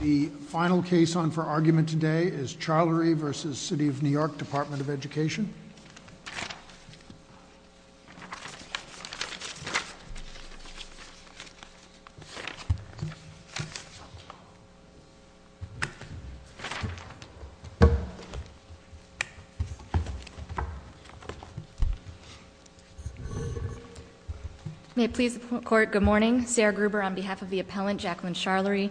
The final case on for argument today is Charlery v. City of New York, Department of Education. May it please the court, good morning. Sarah Gruber on behalf of the appellant, Jacqueline Charlery,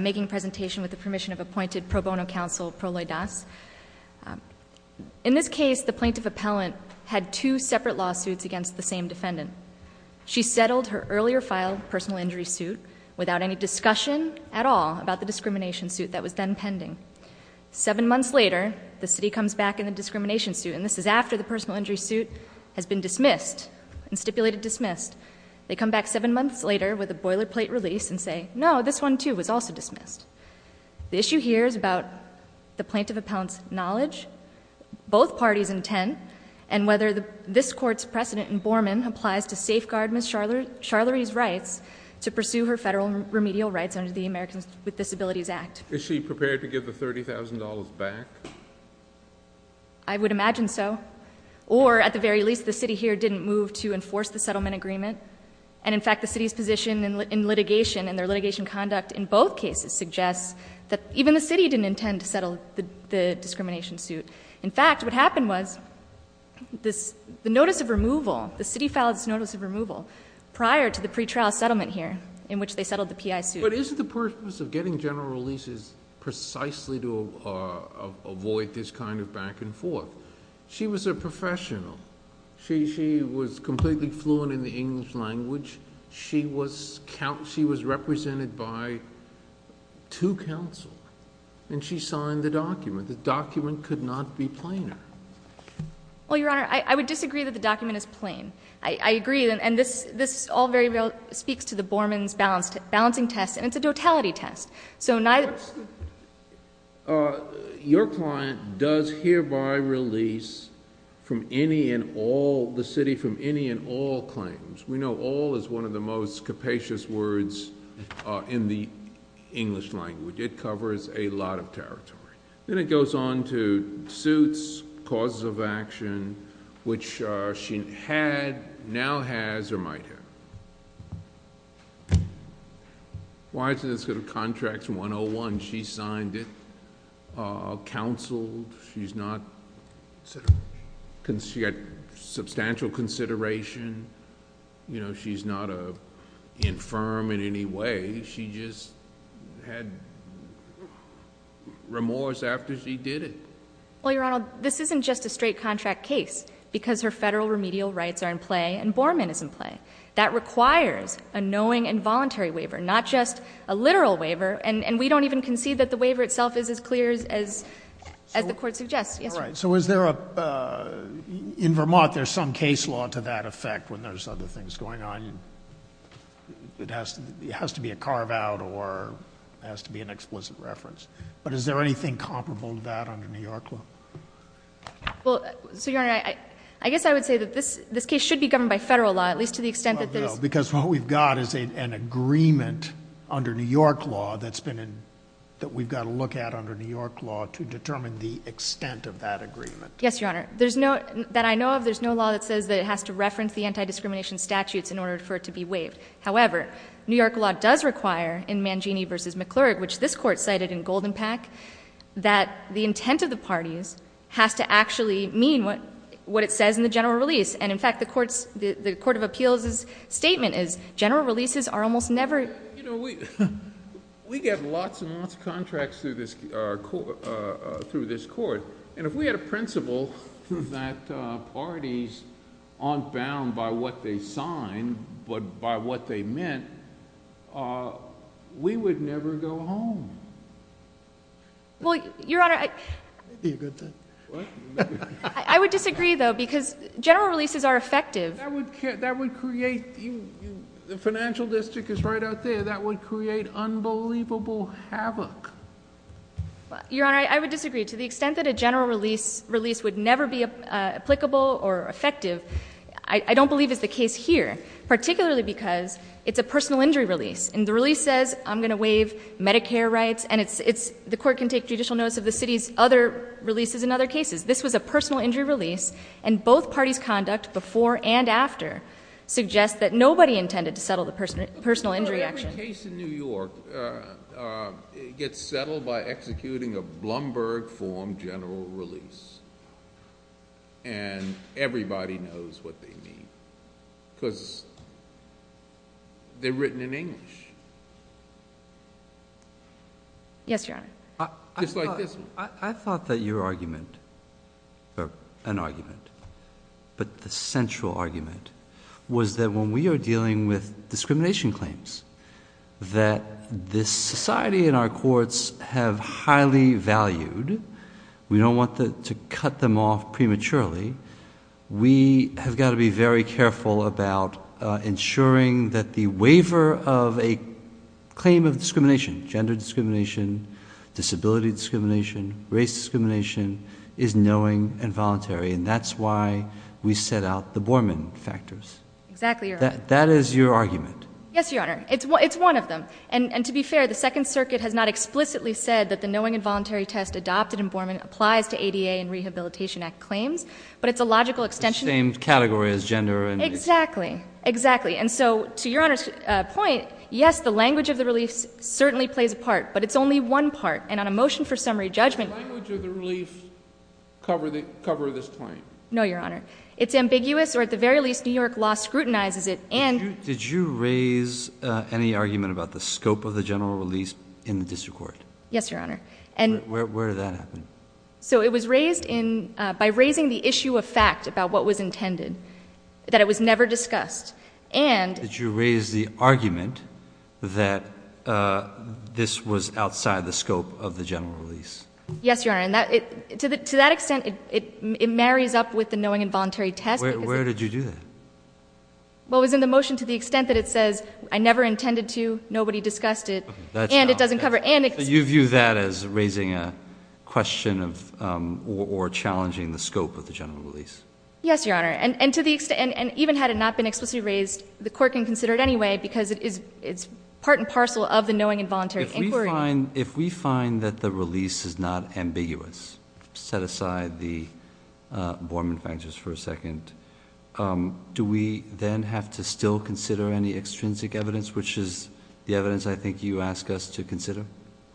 making a presentation with the permission of appointed pro bono counsel, Pro Loy Das. In this case, the plaintiff appellant had two separate lawsuits against the same defendant. She settled her earlier filed personal injury suit without any discussion at all about the discrimination suit that was then pending. Seven months later, the city comes back in the discrimination suit, and this is after the personal injury suit has been dismissed and stipulated dismissed. They come back seven months later with a boilerplate release and say, no, this one too was also dismissed. The issue here is about the plaintiff appellant's knowledge, both parties' intent, and whether this court's precedent in Borman applies to safeguard Ms. Charlery's rights to pursue her federal remedial rights under the Americans with Disabilities Act. Is she prepared to give the $30,000 back? I would imagine so. Or, at the very least, the city here didn't move to enforce the settlement agreement. And, in fact, the city's position in litigation and their litigation conduct in both cases suggests that even the city didn't intend to settle the discrimination suit. In fact, what happened was the notice of removal, the city filed this notice of removal prior to the pretrial settlement here in which they settled the PI suit. But isn't the purpose of getting general releases precisely to avoid this kind of back and forth? She was a professional. She was completely fluent in the English language. She was represented by two counsel. And she signed the document. The document could not be plainer. Well, Your Honor, I would disagree that the document is plain. I agree. And this all very well speaks to the Borman's balancing test. And it's a totality test. Your client does hereby release from any and all, the city, from any and all claims. We know all is one of the most capacious words in the English language. It covers a lot of territory. Then it goes on to suits, causes of action, which she had, now has, or might have. Why is it that the contract's 101? She signed it. Counseled. She's got substantial consideration. She's not infirm in any way. She just had remorse after she did it. Well, Your Honor, this isn't just a straight contract case because her federal remedial rights are in play and Borman is in play. That requires a knowing and voluntary waiver, not just a literal waiver. And we don't even concede that the waiver itself is as clear as the court suggests. All right. So is there a, in Vermont, there's some case law to that effect when there's other things going on. It has to be a carve out or it has to be an explicit reference. But is there anything comparable to that under New York law? Well, so Your Honor, I guess I would say that this case should be governed by federal law, at least to the extent that there's... Well, no, because what we've got is an agreement under New York law that's been in, that we've got to look at under New York law to determine the extent of that agreement. Yes, Your Honor. There's no, that I know of, there's no law that says that it has to reference the anti-discrimination statutes in order for it to be waived. However, New York law does require in Mangini v. McClurg, which this court cited in Golden Pack, that the intent of the parties has to actually mean what it says in the general release. And in fact, the court of appeals' statement is general releases are almost never... We get lots and lots of contracts through this court. And if we had a principle that parties aren't bound by what they sign, but by what they meant, we would never go home. Well, Your Honor, I would disagree though, because general releases are effective. That would create, the financial district is right out there, that would create unbelievable havoc. Your Honor, I would disagree. To the extent that a general release would never be applicable or effective, I don't believe is the case here, particularly because it's a personal injury release. And the release says, I'm going to waive Medicare rights, and the court can take judicial notice of the city's other releases and other cases. This was a personal injury release, and both parties' conduct before and after suggests that nobody intended to settle the personal injury action. So every case in New York gets settled by executing a Blumberg-form general release. And everybody knows what they mean, because they're written in English. Yes, Your Honor. Just like this one. I thought that your argument, or an argument, but the central argument, was that when we are dealing with discrimination claims, that this society and our courts have highly valued, we don't want to cut them off prematurely. We have got to be very careful about ensuring that the waiver of a claim of discrimination, gender discrimination, disability discrimination, race discrimination, is knowing and voluntary. And that's why we set out the Borman factors. Exactly, Your Honor. That is your argument. Yes, Your Honor. It's one of them. And to be fair, the Second Circuit has not explicitly said that the knowing and voluntary test adopted in Borman applies to ADA and Rehabilitation Act claims. But it's a logical extension. The same category as gender. Exactly. Exactly. And so, to Your Honor's point, yes, the language of the release certainly plays a part. But it's only one part. And on a motion for summary judgment. Does the language of the release cover this claim? No, Your Honor. It's ambiguous, or at the very least, New York law scrutinizes it. Did you raise any argument about the scope of the general release in the district court? Yes, Your Honor. Where did that happen? So, it was raised by raising the issue of fact about what was intended. That it was never discussed. Did you raise the argument that this was outside the scope of the general release? Yes, Your Honor. To that extent, it marries up with the knowing and voluntary test. Where did you do that? Well, it was in the motion to the extent that it says, I never intended to. Nobody discussed it. And it doesn't cover. You view that as raising a question or challenging the scope of the general release. Yes, Your Honor. And even had it not been explicitly raised, the court can consider it anyway. Because it's part and parcel of the knowing and voluntary inquiry. If we find that the release is not ambiguous. Let's set aside the Borman factors for a second. Do we then have to still consider any extrinsic evidence? Which is the evidence I think you ask us to consider?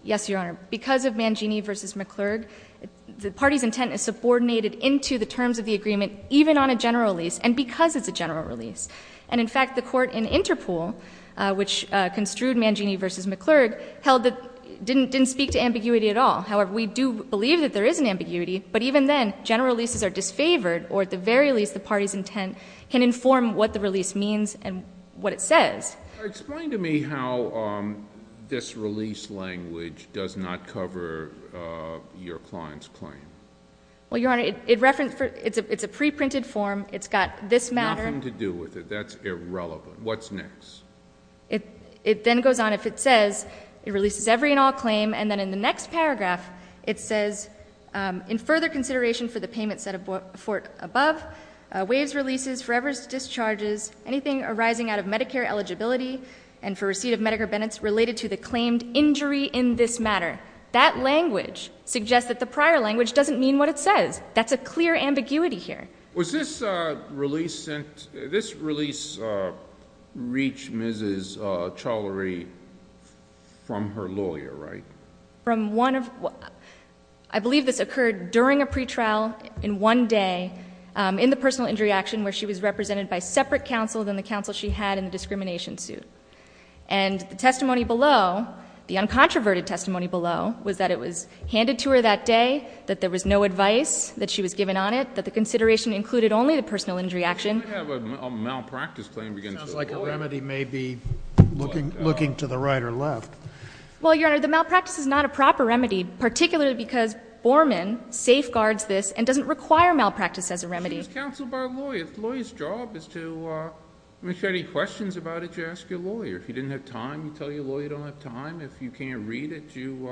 Yes, Your Honor. Because of Mangini v. McClurg, the party's intent is subordinated into the terms of the agreement. Even on a general release. And because it's a general release. And in fact, the court in Interpool, which construed Mangini v. McClurg, held that it didn't speak to ambiguity at all. However, we do believe that there is an ambiguity. But even then, general releases are disfavored. Or at the very least, the party's intent can inform what the release means and what it says. Explain to me how this release language does not cover your client's claim. Well, Your Honor, it's a pre-printed form. It's got this matter. Nothing to do with it. That's irrelevant. What's next? It then goes on. If it says, it releases every and all claim. And then in the next paragraph, it says, in further consideration for the payment set forth above, waives releases, forevers discharges, anything arising out of Medicare eligibility, and for receipt of Medicare benefits related to the claimed injury in this matter. That language suggests that the prior language doesn't mean what it says. That's a clear ambiguity here. This release reached Mrs. Cholere from her lawyer, right? I believe this occurred during a pretrial in one day in the personal injury action where she was represented by separate counsel than the counsel she had in the discrimination suit. And the testimony below, the uncontroverted testimony below, was that it was handed to her that day, that there was no advice that she was given on it, that the consideration included only the personal injury action. We have a malpractice claim against the lawyer. It sounds like a remedy may be looking to the right or left. Well, Your Honor, the malpractice is not a proper remedy, particularly because Borman safeguards this and doesn't require malpractice as a remedy. She was counseled by a lawyer. A lawyer's job is to, if you have any questions about it, you ask your lawyer. If you didn't have time, you tell your lawyer you don't have time. If you can't read it, you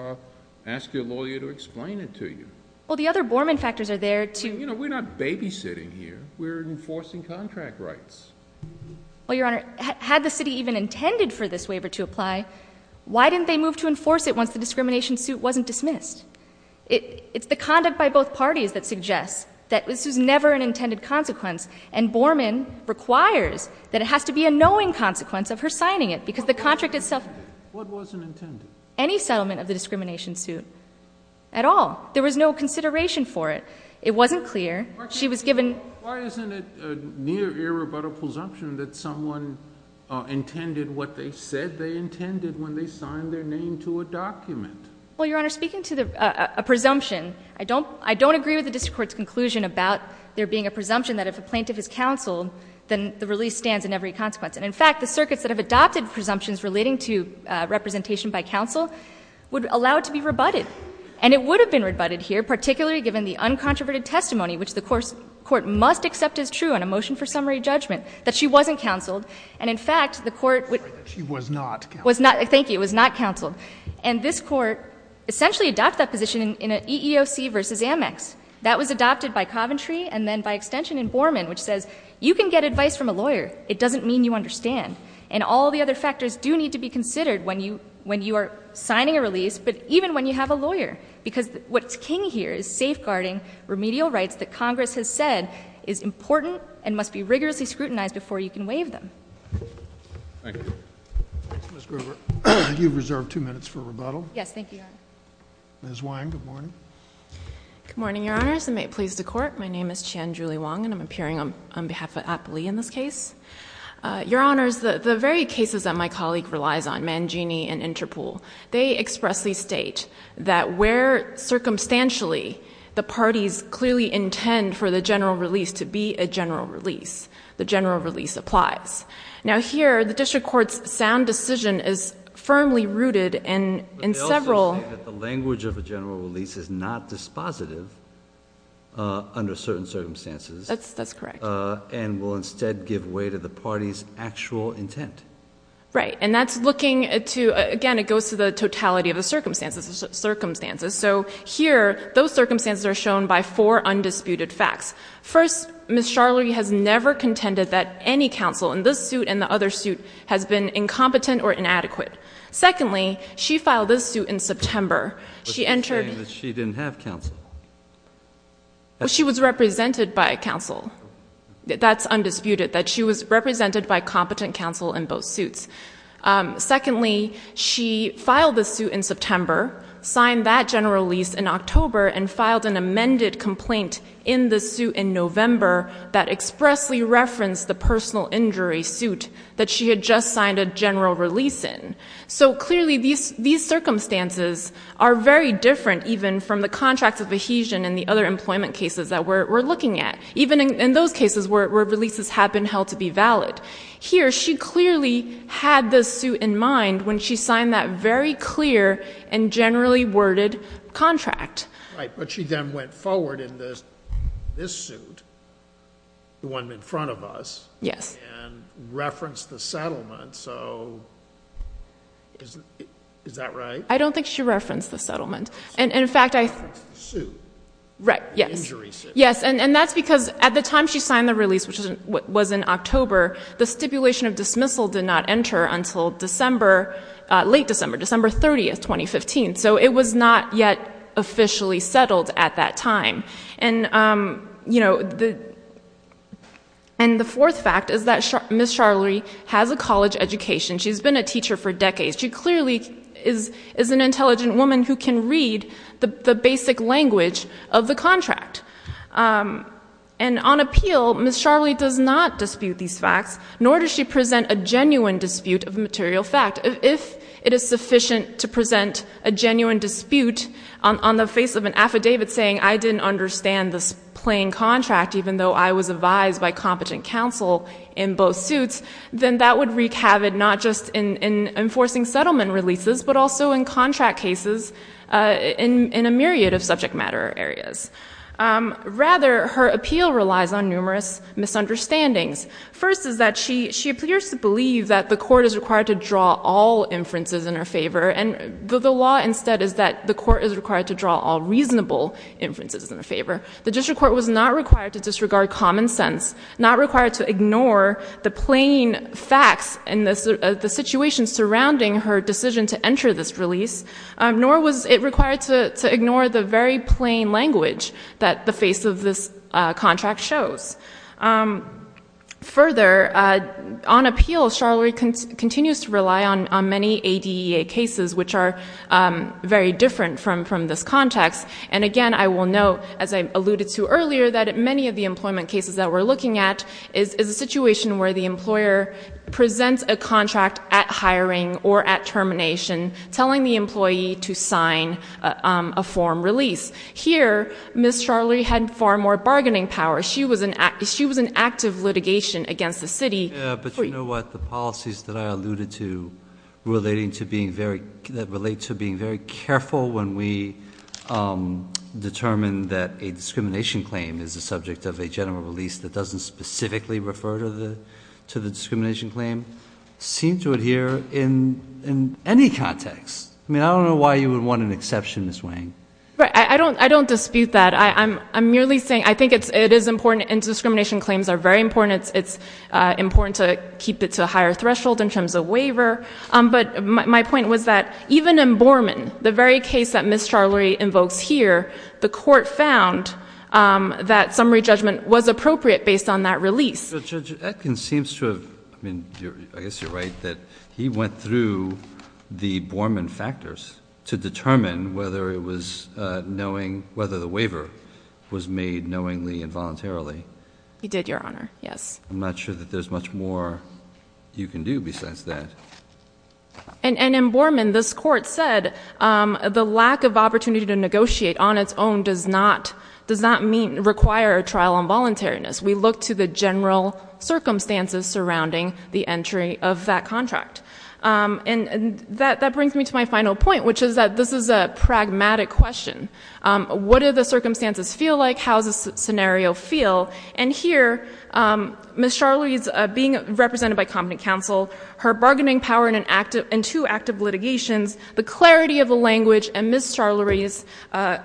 ask your lawyer to explain it to you. Well, the other Borman factors are there too. You know, we're not babysitting here. We're enforcing contract rights. Well, Your Honor, had the city even intended for this waiver to apply, why didn't they move to enforce it once the discrimination suit wasn't dismissed? It's the conduct by both parties that suggests that this was never an intended consequence, and Borman requires that it has to be a knowing consequence of her signing it because the contract itself... What wasn't intended? Any settlement of the discrimination suit at all. There was no consideration for it. It wasn't clear. She was given... Why isn't it near irrebuttable presumption that someone intended what they said they intended when they signed their name to a document? Well, Your Honor, speaking to a presumption, I don't agree with the district court's conclusion about there being a presumption that if a plaintiff is counseled, then the release stands in every consequence. And, in fact, the circuits that have adopted presumptions relating to representation by counsel would allow it to be rebutted. And it would have been rebutted here, particularly given the uncontroverted testimony, which the court must accept as true in a motion for summary judgment, that she wasn't counseled. And, in fact, the court... I'm sorry. She was not counseled. Thank you. It was not counseled. And this court essentially adopted that position in an EEOC v. Amex. That was adopted by Coventry and then by extension in Borman, which says you can get advice from a lawyer. It doesn't mean you understand. And all the other factors do need to be considered when you are signing a release, but even when you have a lawyer. Because what's king here is safeguarding remedial rights that Congress has said is important and must be rigorously scrutinized before you can waive them. Thank you. Ms. Grover, you've reserved two minutes for rebuttal. Yes. Thank you, Your Honor. Ms. Wang, good morning. Good morning, Your Honors. And may it please the Court, my name is Chan Julie Wang, and I'm appearing on behalf of Appley in this case. Your Honors, the very cases that my colleague relies on, Mangini and Interpool, they expressly state that where, circumstantially, the parties clearly intend for the general release to be a general release, the general release applies. Now here, the district court's sound decision is firmly rooted in several. But they also say that the language of a general release is not dispositive under certain circumstances. That's correct. And will instead give way to the party's actual intent. Right. And that's looking to, again, it goes to the totality of the circumstances. So here, those circumstances are shown by four undisputed facts. First, Ms. Sharley has never contended that any counsel in this suit and the other suit has been incompetent or inadequate. Secondly, she filed this suit in September. She entered... But she's saying that she didn't have counsel. She was represented by counsel. That's undisputed, that she was represented by competent counsel in both suits. Secondly, she filed the suit in September, signed that general release in October, and filed an amended complaint in the suit in November that expressly referenced the personal injury suit that she had just signed a general release in. So clearly, these circumstances are very different even from the contracts of adhesion and the other employment cases that we're looking at, even in those cases where releases have been held to be valid. Here, she clearly had this suit in mind when she signed that very clear and generally worded contract. Right, but she then went forward in this suit, the one in front of us... Yes.... and referenced the settlement. So, is that right? I don't think she referenced the settlement. She referenced the suit. Right, yes. The injury suit. Yes, and that's because at the time she signed the release, which was in October, the stipulation of dismissal did not enter until December... late December, December 30, 2015. So, it was not yet officially settled at that time. And, you know, the... And the fourth fact is that Ms. Charlerie has a college education. She's been a teacher for decades. She clearly is an intelligent woman who can read the basic language of the contract. And on appeal, Ms. Charlerie does not dispute these facts, nor does she present a genuine dispute of material fact. If it is sufficient to present a genuine dispute on the face of an affidavit saying, I didn't understand this plain contract, even though I was advised by competent counsel in both suits, then that would wreak havoc not just in enforcing settlement releases, but also in contract cases in a myriad of subject matter areas. Rather, her appeal relies on numerous misunderstandings. First is that she appears to believe that the court is required to draw all inferences in her favor, and the law instead is that the court is required to draw all reasonable inferences in her favor. The district court was not required to disregard common sense, not required to ignore the plain facts in the situation surrounding her decision to enter this release, nor was it required to ignore the very plain language that the face of this contract shows. Further, on appeal, Charlerie continues to rely on many ADEA cases, which are very different from this context. And again, I will note, as I alluded to earlier, that many of the employment cases that we're looking at is a situation where the employer presents a contract at hiring or at termination, telling the employee to sign a form release. Here, Ms. Charlerie had far more bargaining power. She was in active litigation against the city. But you know what? The policies that I alluded to that relate to being very careful when we determine that a discrimination claim is the subject of a general release that doesn't specifically refer to the discrimination claim seem to adhere in any context. I mean, I don't know why you would want an exception, Ms. Wang. I don't dispute that. I'm merely saying I think it is important, and discrimination claims are very important. It's important to keep it to a higher threshold in terms of waiver. But my point was that even in Borman, the very case that Ms. Charlerie invokes here, the court found that summary judgment was appropriate based on that release. But Judge Atkins seems to have, I mean, I guess you're right that he went through the Borman factors to determine whether the waiver was made knowingly and voluntarily. He did, Your Honor, yes. I'm not sure that there's much more you can do besides that. And in Borman, this court said the lack of opportunity to negotiate on its own does not require a trial on voluntariness. We look to the general circumstances surrounding the entry of that contract. And that brings me to my final point, which is that this is a pragmatic question. What do the circumstances feel like? How does the scenario feel? And here, Ms. Charlerie's being represented by competent counsel, her bargaining power in two active litigations, the clarity of the language in Ms. Charlerie's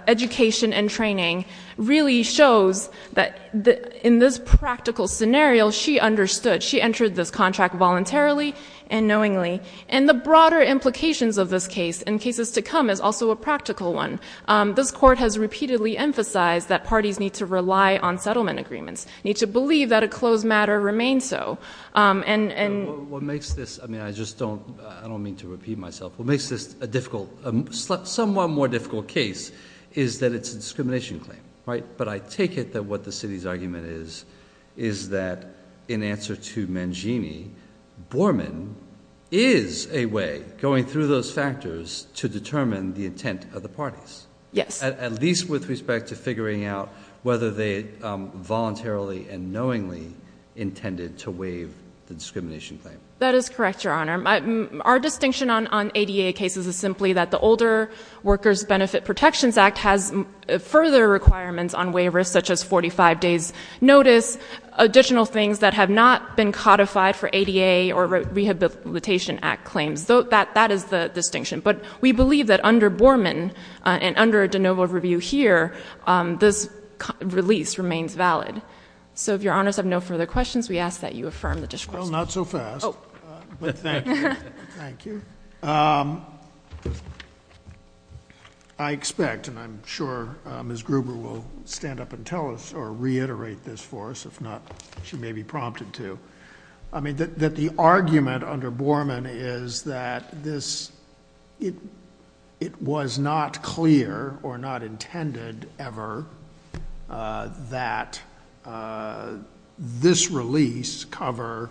education and training really shows that in this practical scenario, she understood. She entered this contract voluntarily and knowingly. And the broader implications of this case and cases to come is also a practical one. This court has repeatedly emphasized that parties need to rely on settlement agreements, need to believe that a closed matter remains so. What makes this, I mean, I just don't mean to repeat myself, what makes this a somewhat more difficult case is that it's a discrimination claim. But I take it that what the city's argument is is that in answer to Mangini, Borman is a way going through those factors to determine the intent of the parties. Yes. At least with respect to figuring out whether they voluntarily and knowingly intended to waive the discrimination claim. That is correct, Your Honor. Our distinction on ADA cases is simply that the Older Workers Benefit Protections Act has further requirements on waivers, such as 45 days' notice, additional things that have not been codified for ADA or Rehabilitation Act claims. That is the distinction. But we believe that under Borman and under de novo review here, this release remains valid. So if Your Honors have no further questions, we ask that you affirm the discourse. Well, not so fast. Oh. But thank you. Thank you. I expect and I'm sure Ms. Gruber will stand up and tell us or reiterate this for us, if not she may be prompted to. I mean that the argument under Borman is that this, it was not clear or not intended ever that this release cover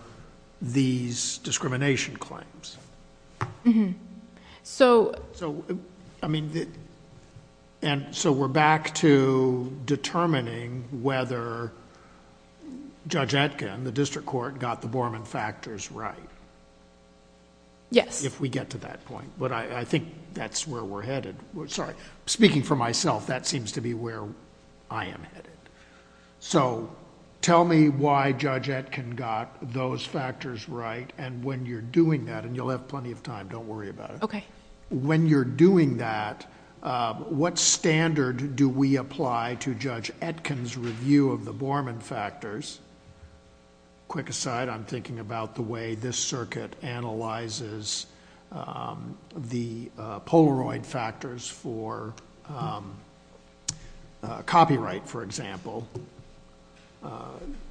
these discrimination claims. So... So, I mean, and so we're back to determining whether Judge Etkin, the district court, got the Borman factors right. Yes. If we get to that point. But I think that's where we're headed. Sorry. Speaking for myself, that seems to be where I am headed. So tell me why Judge Etkin got those factors right and when you're doing that, and you'll have plenty of time, don't worry about it. Okay. When you're doing that, what standard do we apply to Judge Etkin's review of the Borman factors? Quick aside, I'm thinking about the way this circuit analyzes the Polaroid factors for copyright, for example.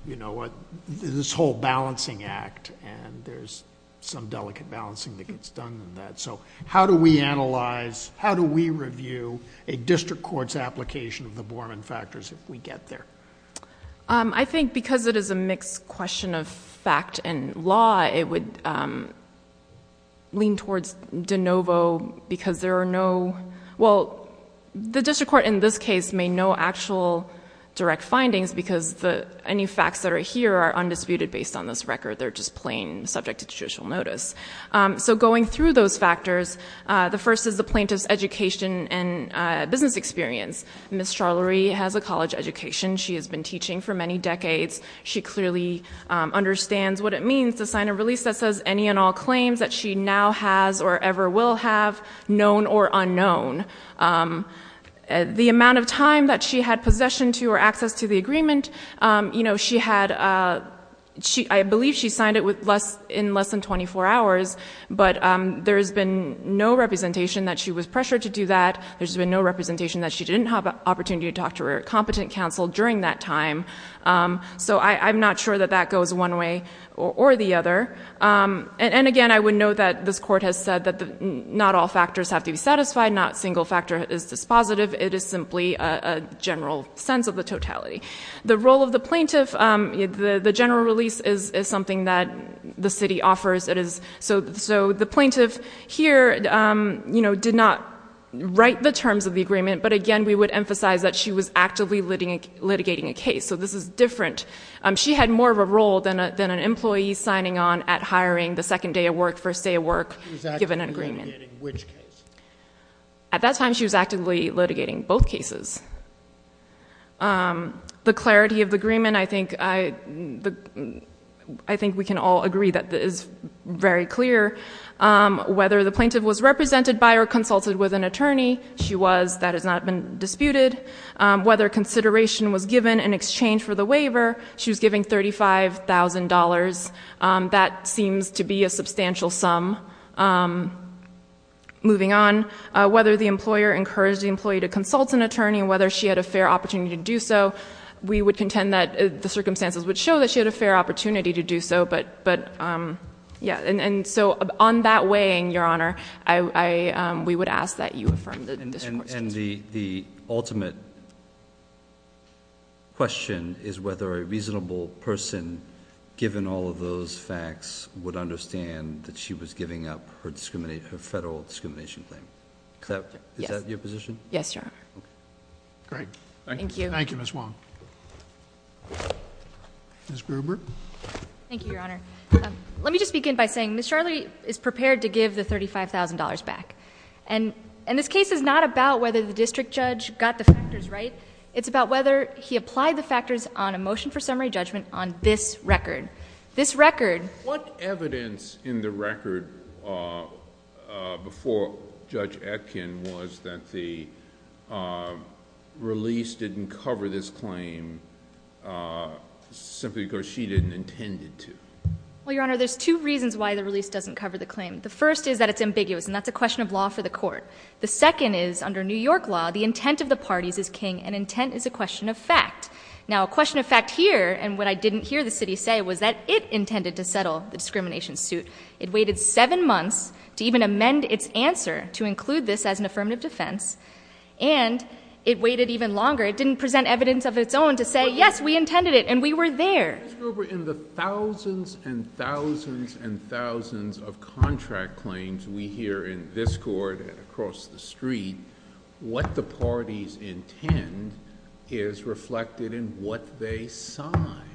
You know, this whole balancing act and there's some delicate balancing that gets done in that. So how do we analyze, how do we review a district court's application of the Borman factors if we get there? I think because it is a mixed question of fact and law, it would lean towards de novo because there are no... Well, the district court in this case made no actual direct findings because any facts that are here are undisputed based on this record. They're just plain subject to judicial notice. So going through those factors, the first is the plaintiff's education and business experience. Ms. Charlerie has a college education. She has been teaching for many decades. She clearly understands what it means to sign a release that says any and all claims that she now has or ever will have, known or unknown. The amount of time that she had possession to or access to the agreement, you know, she had... I believe she signed it in less than 24 hours, but there has been no representation that she was pressured to do that. There's been no representation that she didn't have an opportunity to talk to her competent counsel during that time. So, I'm not sure that that goes one way or the other. And again, I would note that this court has said that not all factors have to be satisfied. Not a single factor is dispositive. It is simply a general sense of the totality. The role of the plaintiff, the general release is something that the city offers. So, the plaintiff here, you know, did not write the terms of the agreement. But again, we would emphasize that she was actively litigating a case. So, this is different. She had more of a role than an employee signing on at hiring the second day of work, first day of work, given an agreement. She was actively litigating which case? At that time, she was actively litigating both cases. The clarity of the agreement, I think we can all agree that is very clear. Whether the plaintiff was represented by or consulted with an attorney, she was. That has not been disputed. Whether consideration was given in exchange for the waiver, she was giving $35,000. That seems to be a substantial sum. Moving on, whether the employer encouraged the employee to consult an attorney, whether she had a fair opportunity to do so, we would contend that the circumstances would show that she had a fair opportunity to do so. But, yeah. And so, on that weighing, Your Honor, we would ask that you affirm this report. And the ultimate question is whether a reasonable person, given all of those facts, would understand that she was giving up her federal discrimination claim. Is that your position? Yes, Your Honor. Great. Thank you. Thank you, Ms. Wong. Ms. Gruber. Thank you, Your Honor. Let me just begin by saying Ms. Charley is prepared to give the $35,000 back. And this case is not about whether the district judge got the factors right. It's about whether he applied the factors on a motion for summary judgment on this record. This record. What evidence in the record before Judge Atkin was that the release didn't cover this claim simply because she didn't intend it to? Well, Your Honor, there's two reasons why the release doesn't cover the claim. The first is that it's ambiguous, and that's a question of law for the court. The second is, under New York law, the intent of the parties is king, and intent is a question of fact. Now, a question of fact here, and what I didn't hear the city say, was that it intended to settle the discrimination suit. It waited seven months to even amend its answer to include this as an affirmative defense. And it waited even longer. It didn't present evidence of its own to say, yes, we intended it, and we were there. Judge Gruber, in the thousands and thousands and thousands of contract claims we hear in this court and across the street, what the parties intend is reflected in what they sign.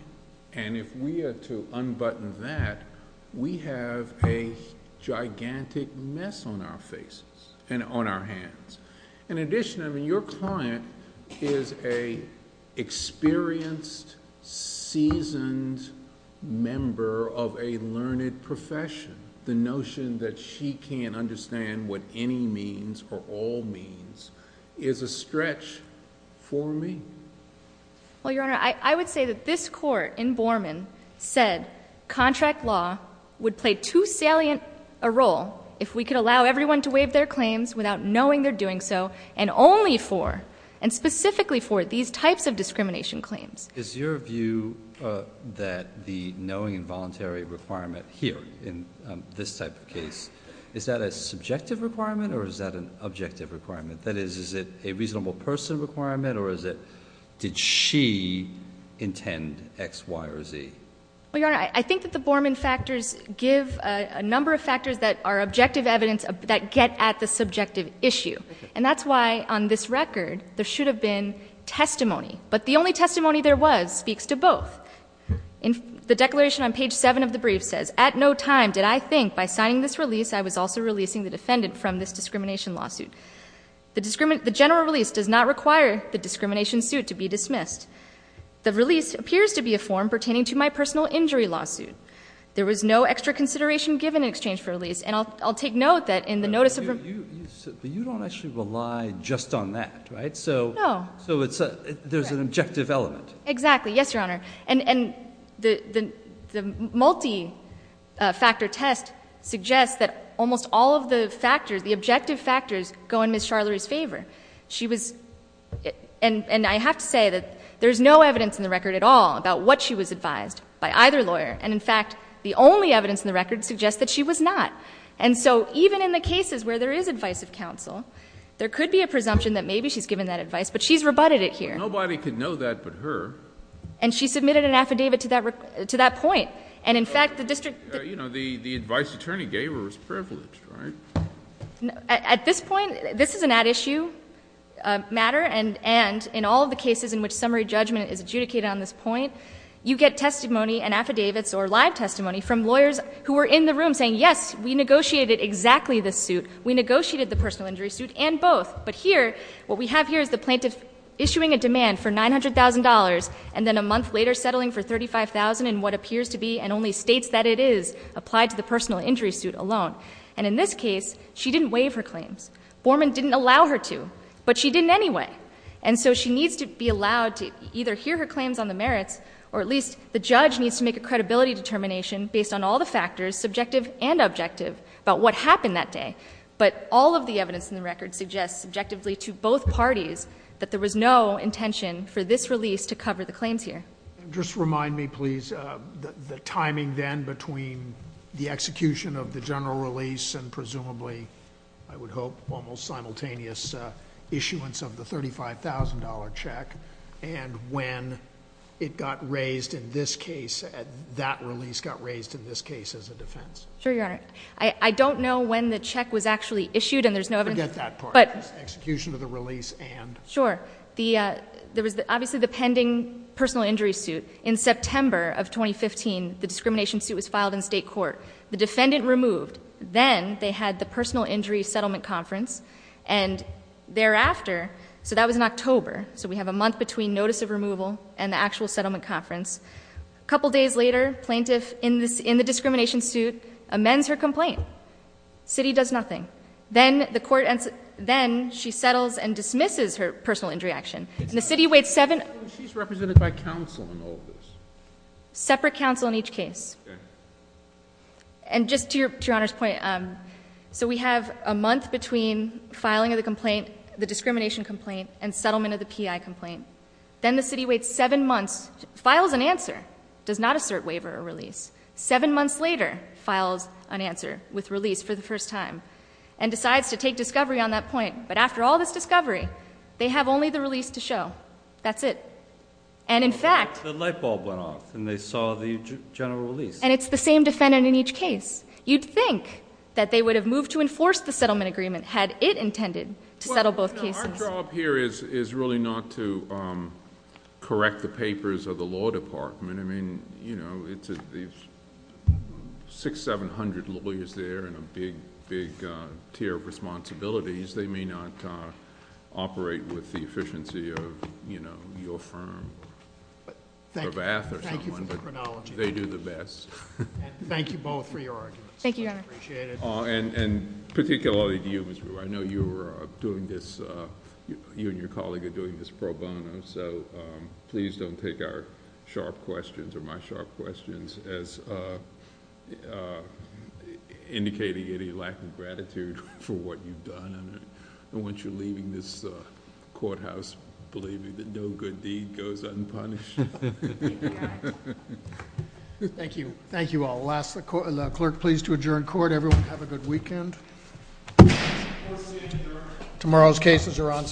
And if we are to unbutton that, we have a gigantic mess on our faces and on our hands. In addition, I mean, your client is an experienced, seasoned member of a learned profession. The notion that she can't understand what any means or all means is a stretch for me. Well, Your Honor, I would say that this court in Borman said contract law would play too salient a role if we could allow everyone to waive their claims without knowing they're doing so, and only for, and specifically for, these types of discrimination claims. Is your view that the knowing and voluntary requirement here in this type of case, is that a subjective requirement or is that an objective requirement? That is, is it a reasonable person requirement or is it did she intend X, Y, or Z? Well, Your Honor, I think that the Borman factors give a number of factors that are objective evidence that get at the subjective issue. And that's why, on this record, there should have been testimony. But the only testimony there was speaks to both. The declaration on page 7 of the brief says, At no time did I think by signing this release I was also releasing the defendant from this discrimination lawsuit. The general release does not require the discrimination suit to be dismissed. The release appears to be a form pertaining to my personal injury lawsuit. There was no extra consideration given in exchange for release. And I'll take note that in the notice of- But you don't actually rely just on that, right? No. So there's an objective element. Exactly. Yes, Your Honor. And the multi-factor test suggests that almost all of the factors, the objective factors, go in Ms. Charlerie's favor. And I have to say that there's no evidence in the record at all about what she was advised by either lawyer. And, in fact, the only evidence in the record suggests that she was not. And so even in the cases where there is advice of counsel, there could be a presumption that maybe she's given that advice. But she's rebutted it here. Well, nobody could know that but her. And she submitted an affidavit to that point. And, in fact, the district- You know, the advice the attorney gave her was privileged, right? At this point, this is an at-issue matter. And in all of the cases in which summary judgment is adjudicated on this point, you get testimony and affidavits or live testimony from lawyers who are in the room saying, yes, we negotiated exactly this suit. We negotiated the personal injury suit and both. But here, what we have here is the plaintiff issuing a demand for $900,000 and then a month later settling for $35,000 in what appears to be and only states that it is applied to the personal injury suit alone. And in this case, she didn't waive her claims. Borman didn't allow her to. But she didn't anyway. And so she needs to be allowed to either hear her claims on the merits or at least the judge needs to make a credibility determination based on all the factors, subjective and objective, about what happened that day. But all of the evidence in the record suggests subjectively to both parties that there was no intention for this release to cover the claims here. Just remind me, please, the timing then between the execution of the general release and presumably, I would hope, almost simultaneous issuance of the $35,000 check and when it got raised in this case, that release got raised in this case as a defense. Sure, Your Honor. I don't know when the check was actually issued and there's no evidence. Forget that part. Execution of the release and? Sure. There was obviously the pending personal injury suit. In September of 2015, the discrimination suit was filed in state court. The defendant removed. Then they had the personal injury settlement conference. And thereafter, so that was in October, so we have a month between notice of removal and the actual settlement conference. A couple days later, plaintiff in the discrimination suit amends her complaint. The city does nothing. Then she settles and dismisses her personal injury action. She's represented by counsel in all of this. Separate counsel in each case. Okay. And just to Your Honor's point, so we have a month between filing of the complaint, the discrimination complaint, and settlement of the PI complaint. Then the city waits seven months, files an answer, does not assert waiver or release. Seven months later, files an answer with release for the first time. And decides to take discovery on that point. But after all this discovery, they have only the release to show. That's it. And in fact. The light bulb went off and they saw the general release. And it's the same defendant in each case. You'd think that they would have moved to enforce the settlement agreement had it intended to settle both cases. Our job here is really not to correct the papers of the law department. I mean, you know, six, 700 lawyers there and a big, big tier of responsibilities. They may not operate with the efficiency of your firm. Thank you for the chronology. They do the best. And thank you both for your arguments. Thank you, Your Honor. I appreciate it. And particularly to you, Ms. Brewer. I know you and your colleague are doing this pro bono. So please don't take our sharp questions or my sharp questions as indicating any lack of gratitude for what you've done. And once you're leaving this courthouse, believe me, that no good deed goes unpunished. Thank you. Thank you all. Last, the clerk, please, to adjourn court. Everyone have a good weekend. Tomorrow's cases are on.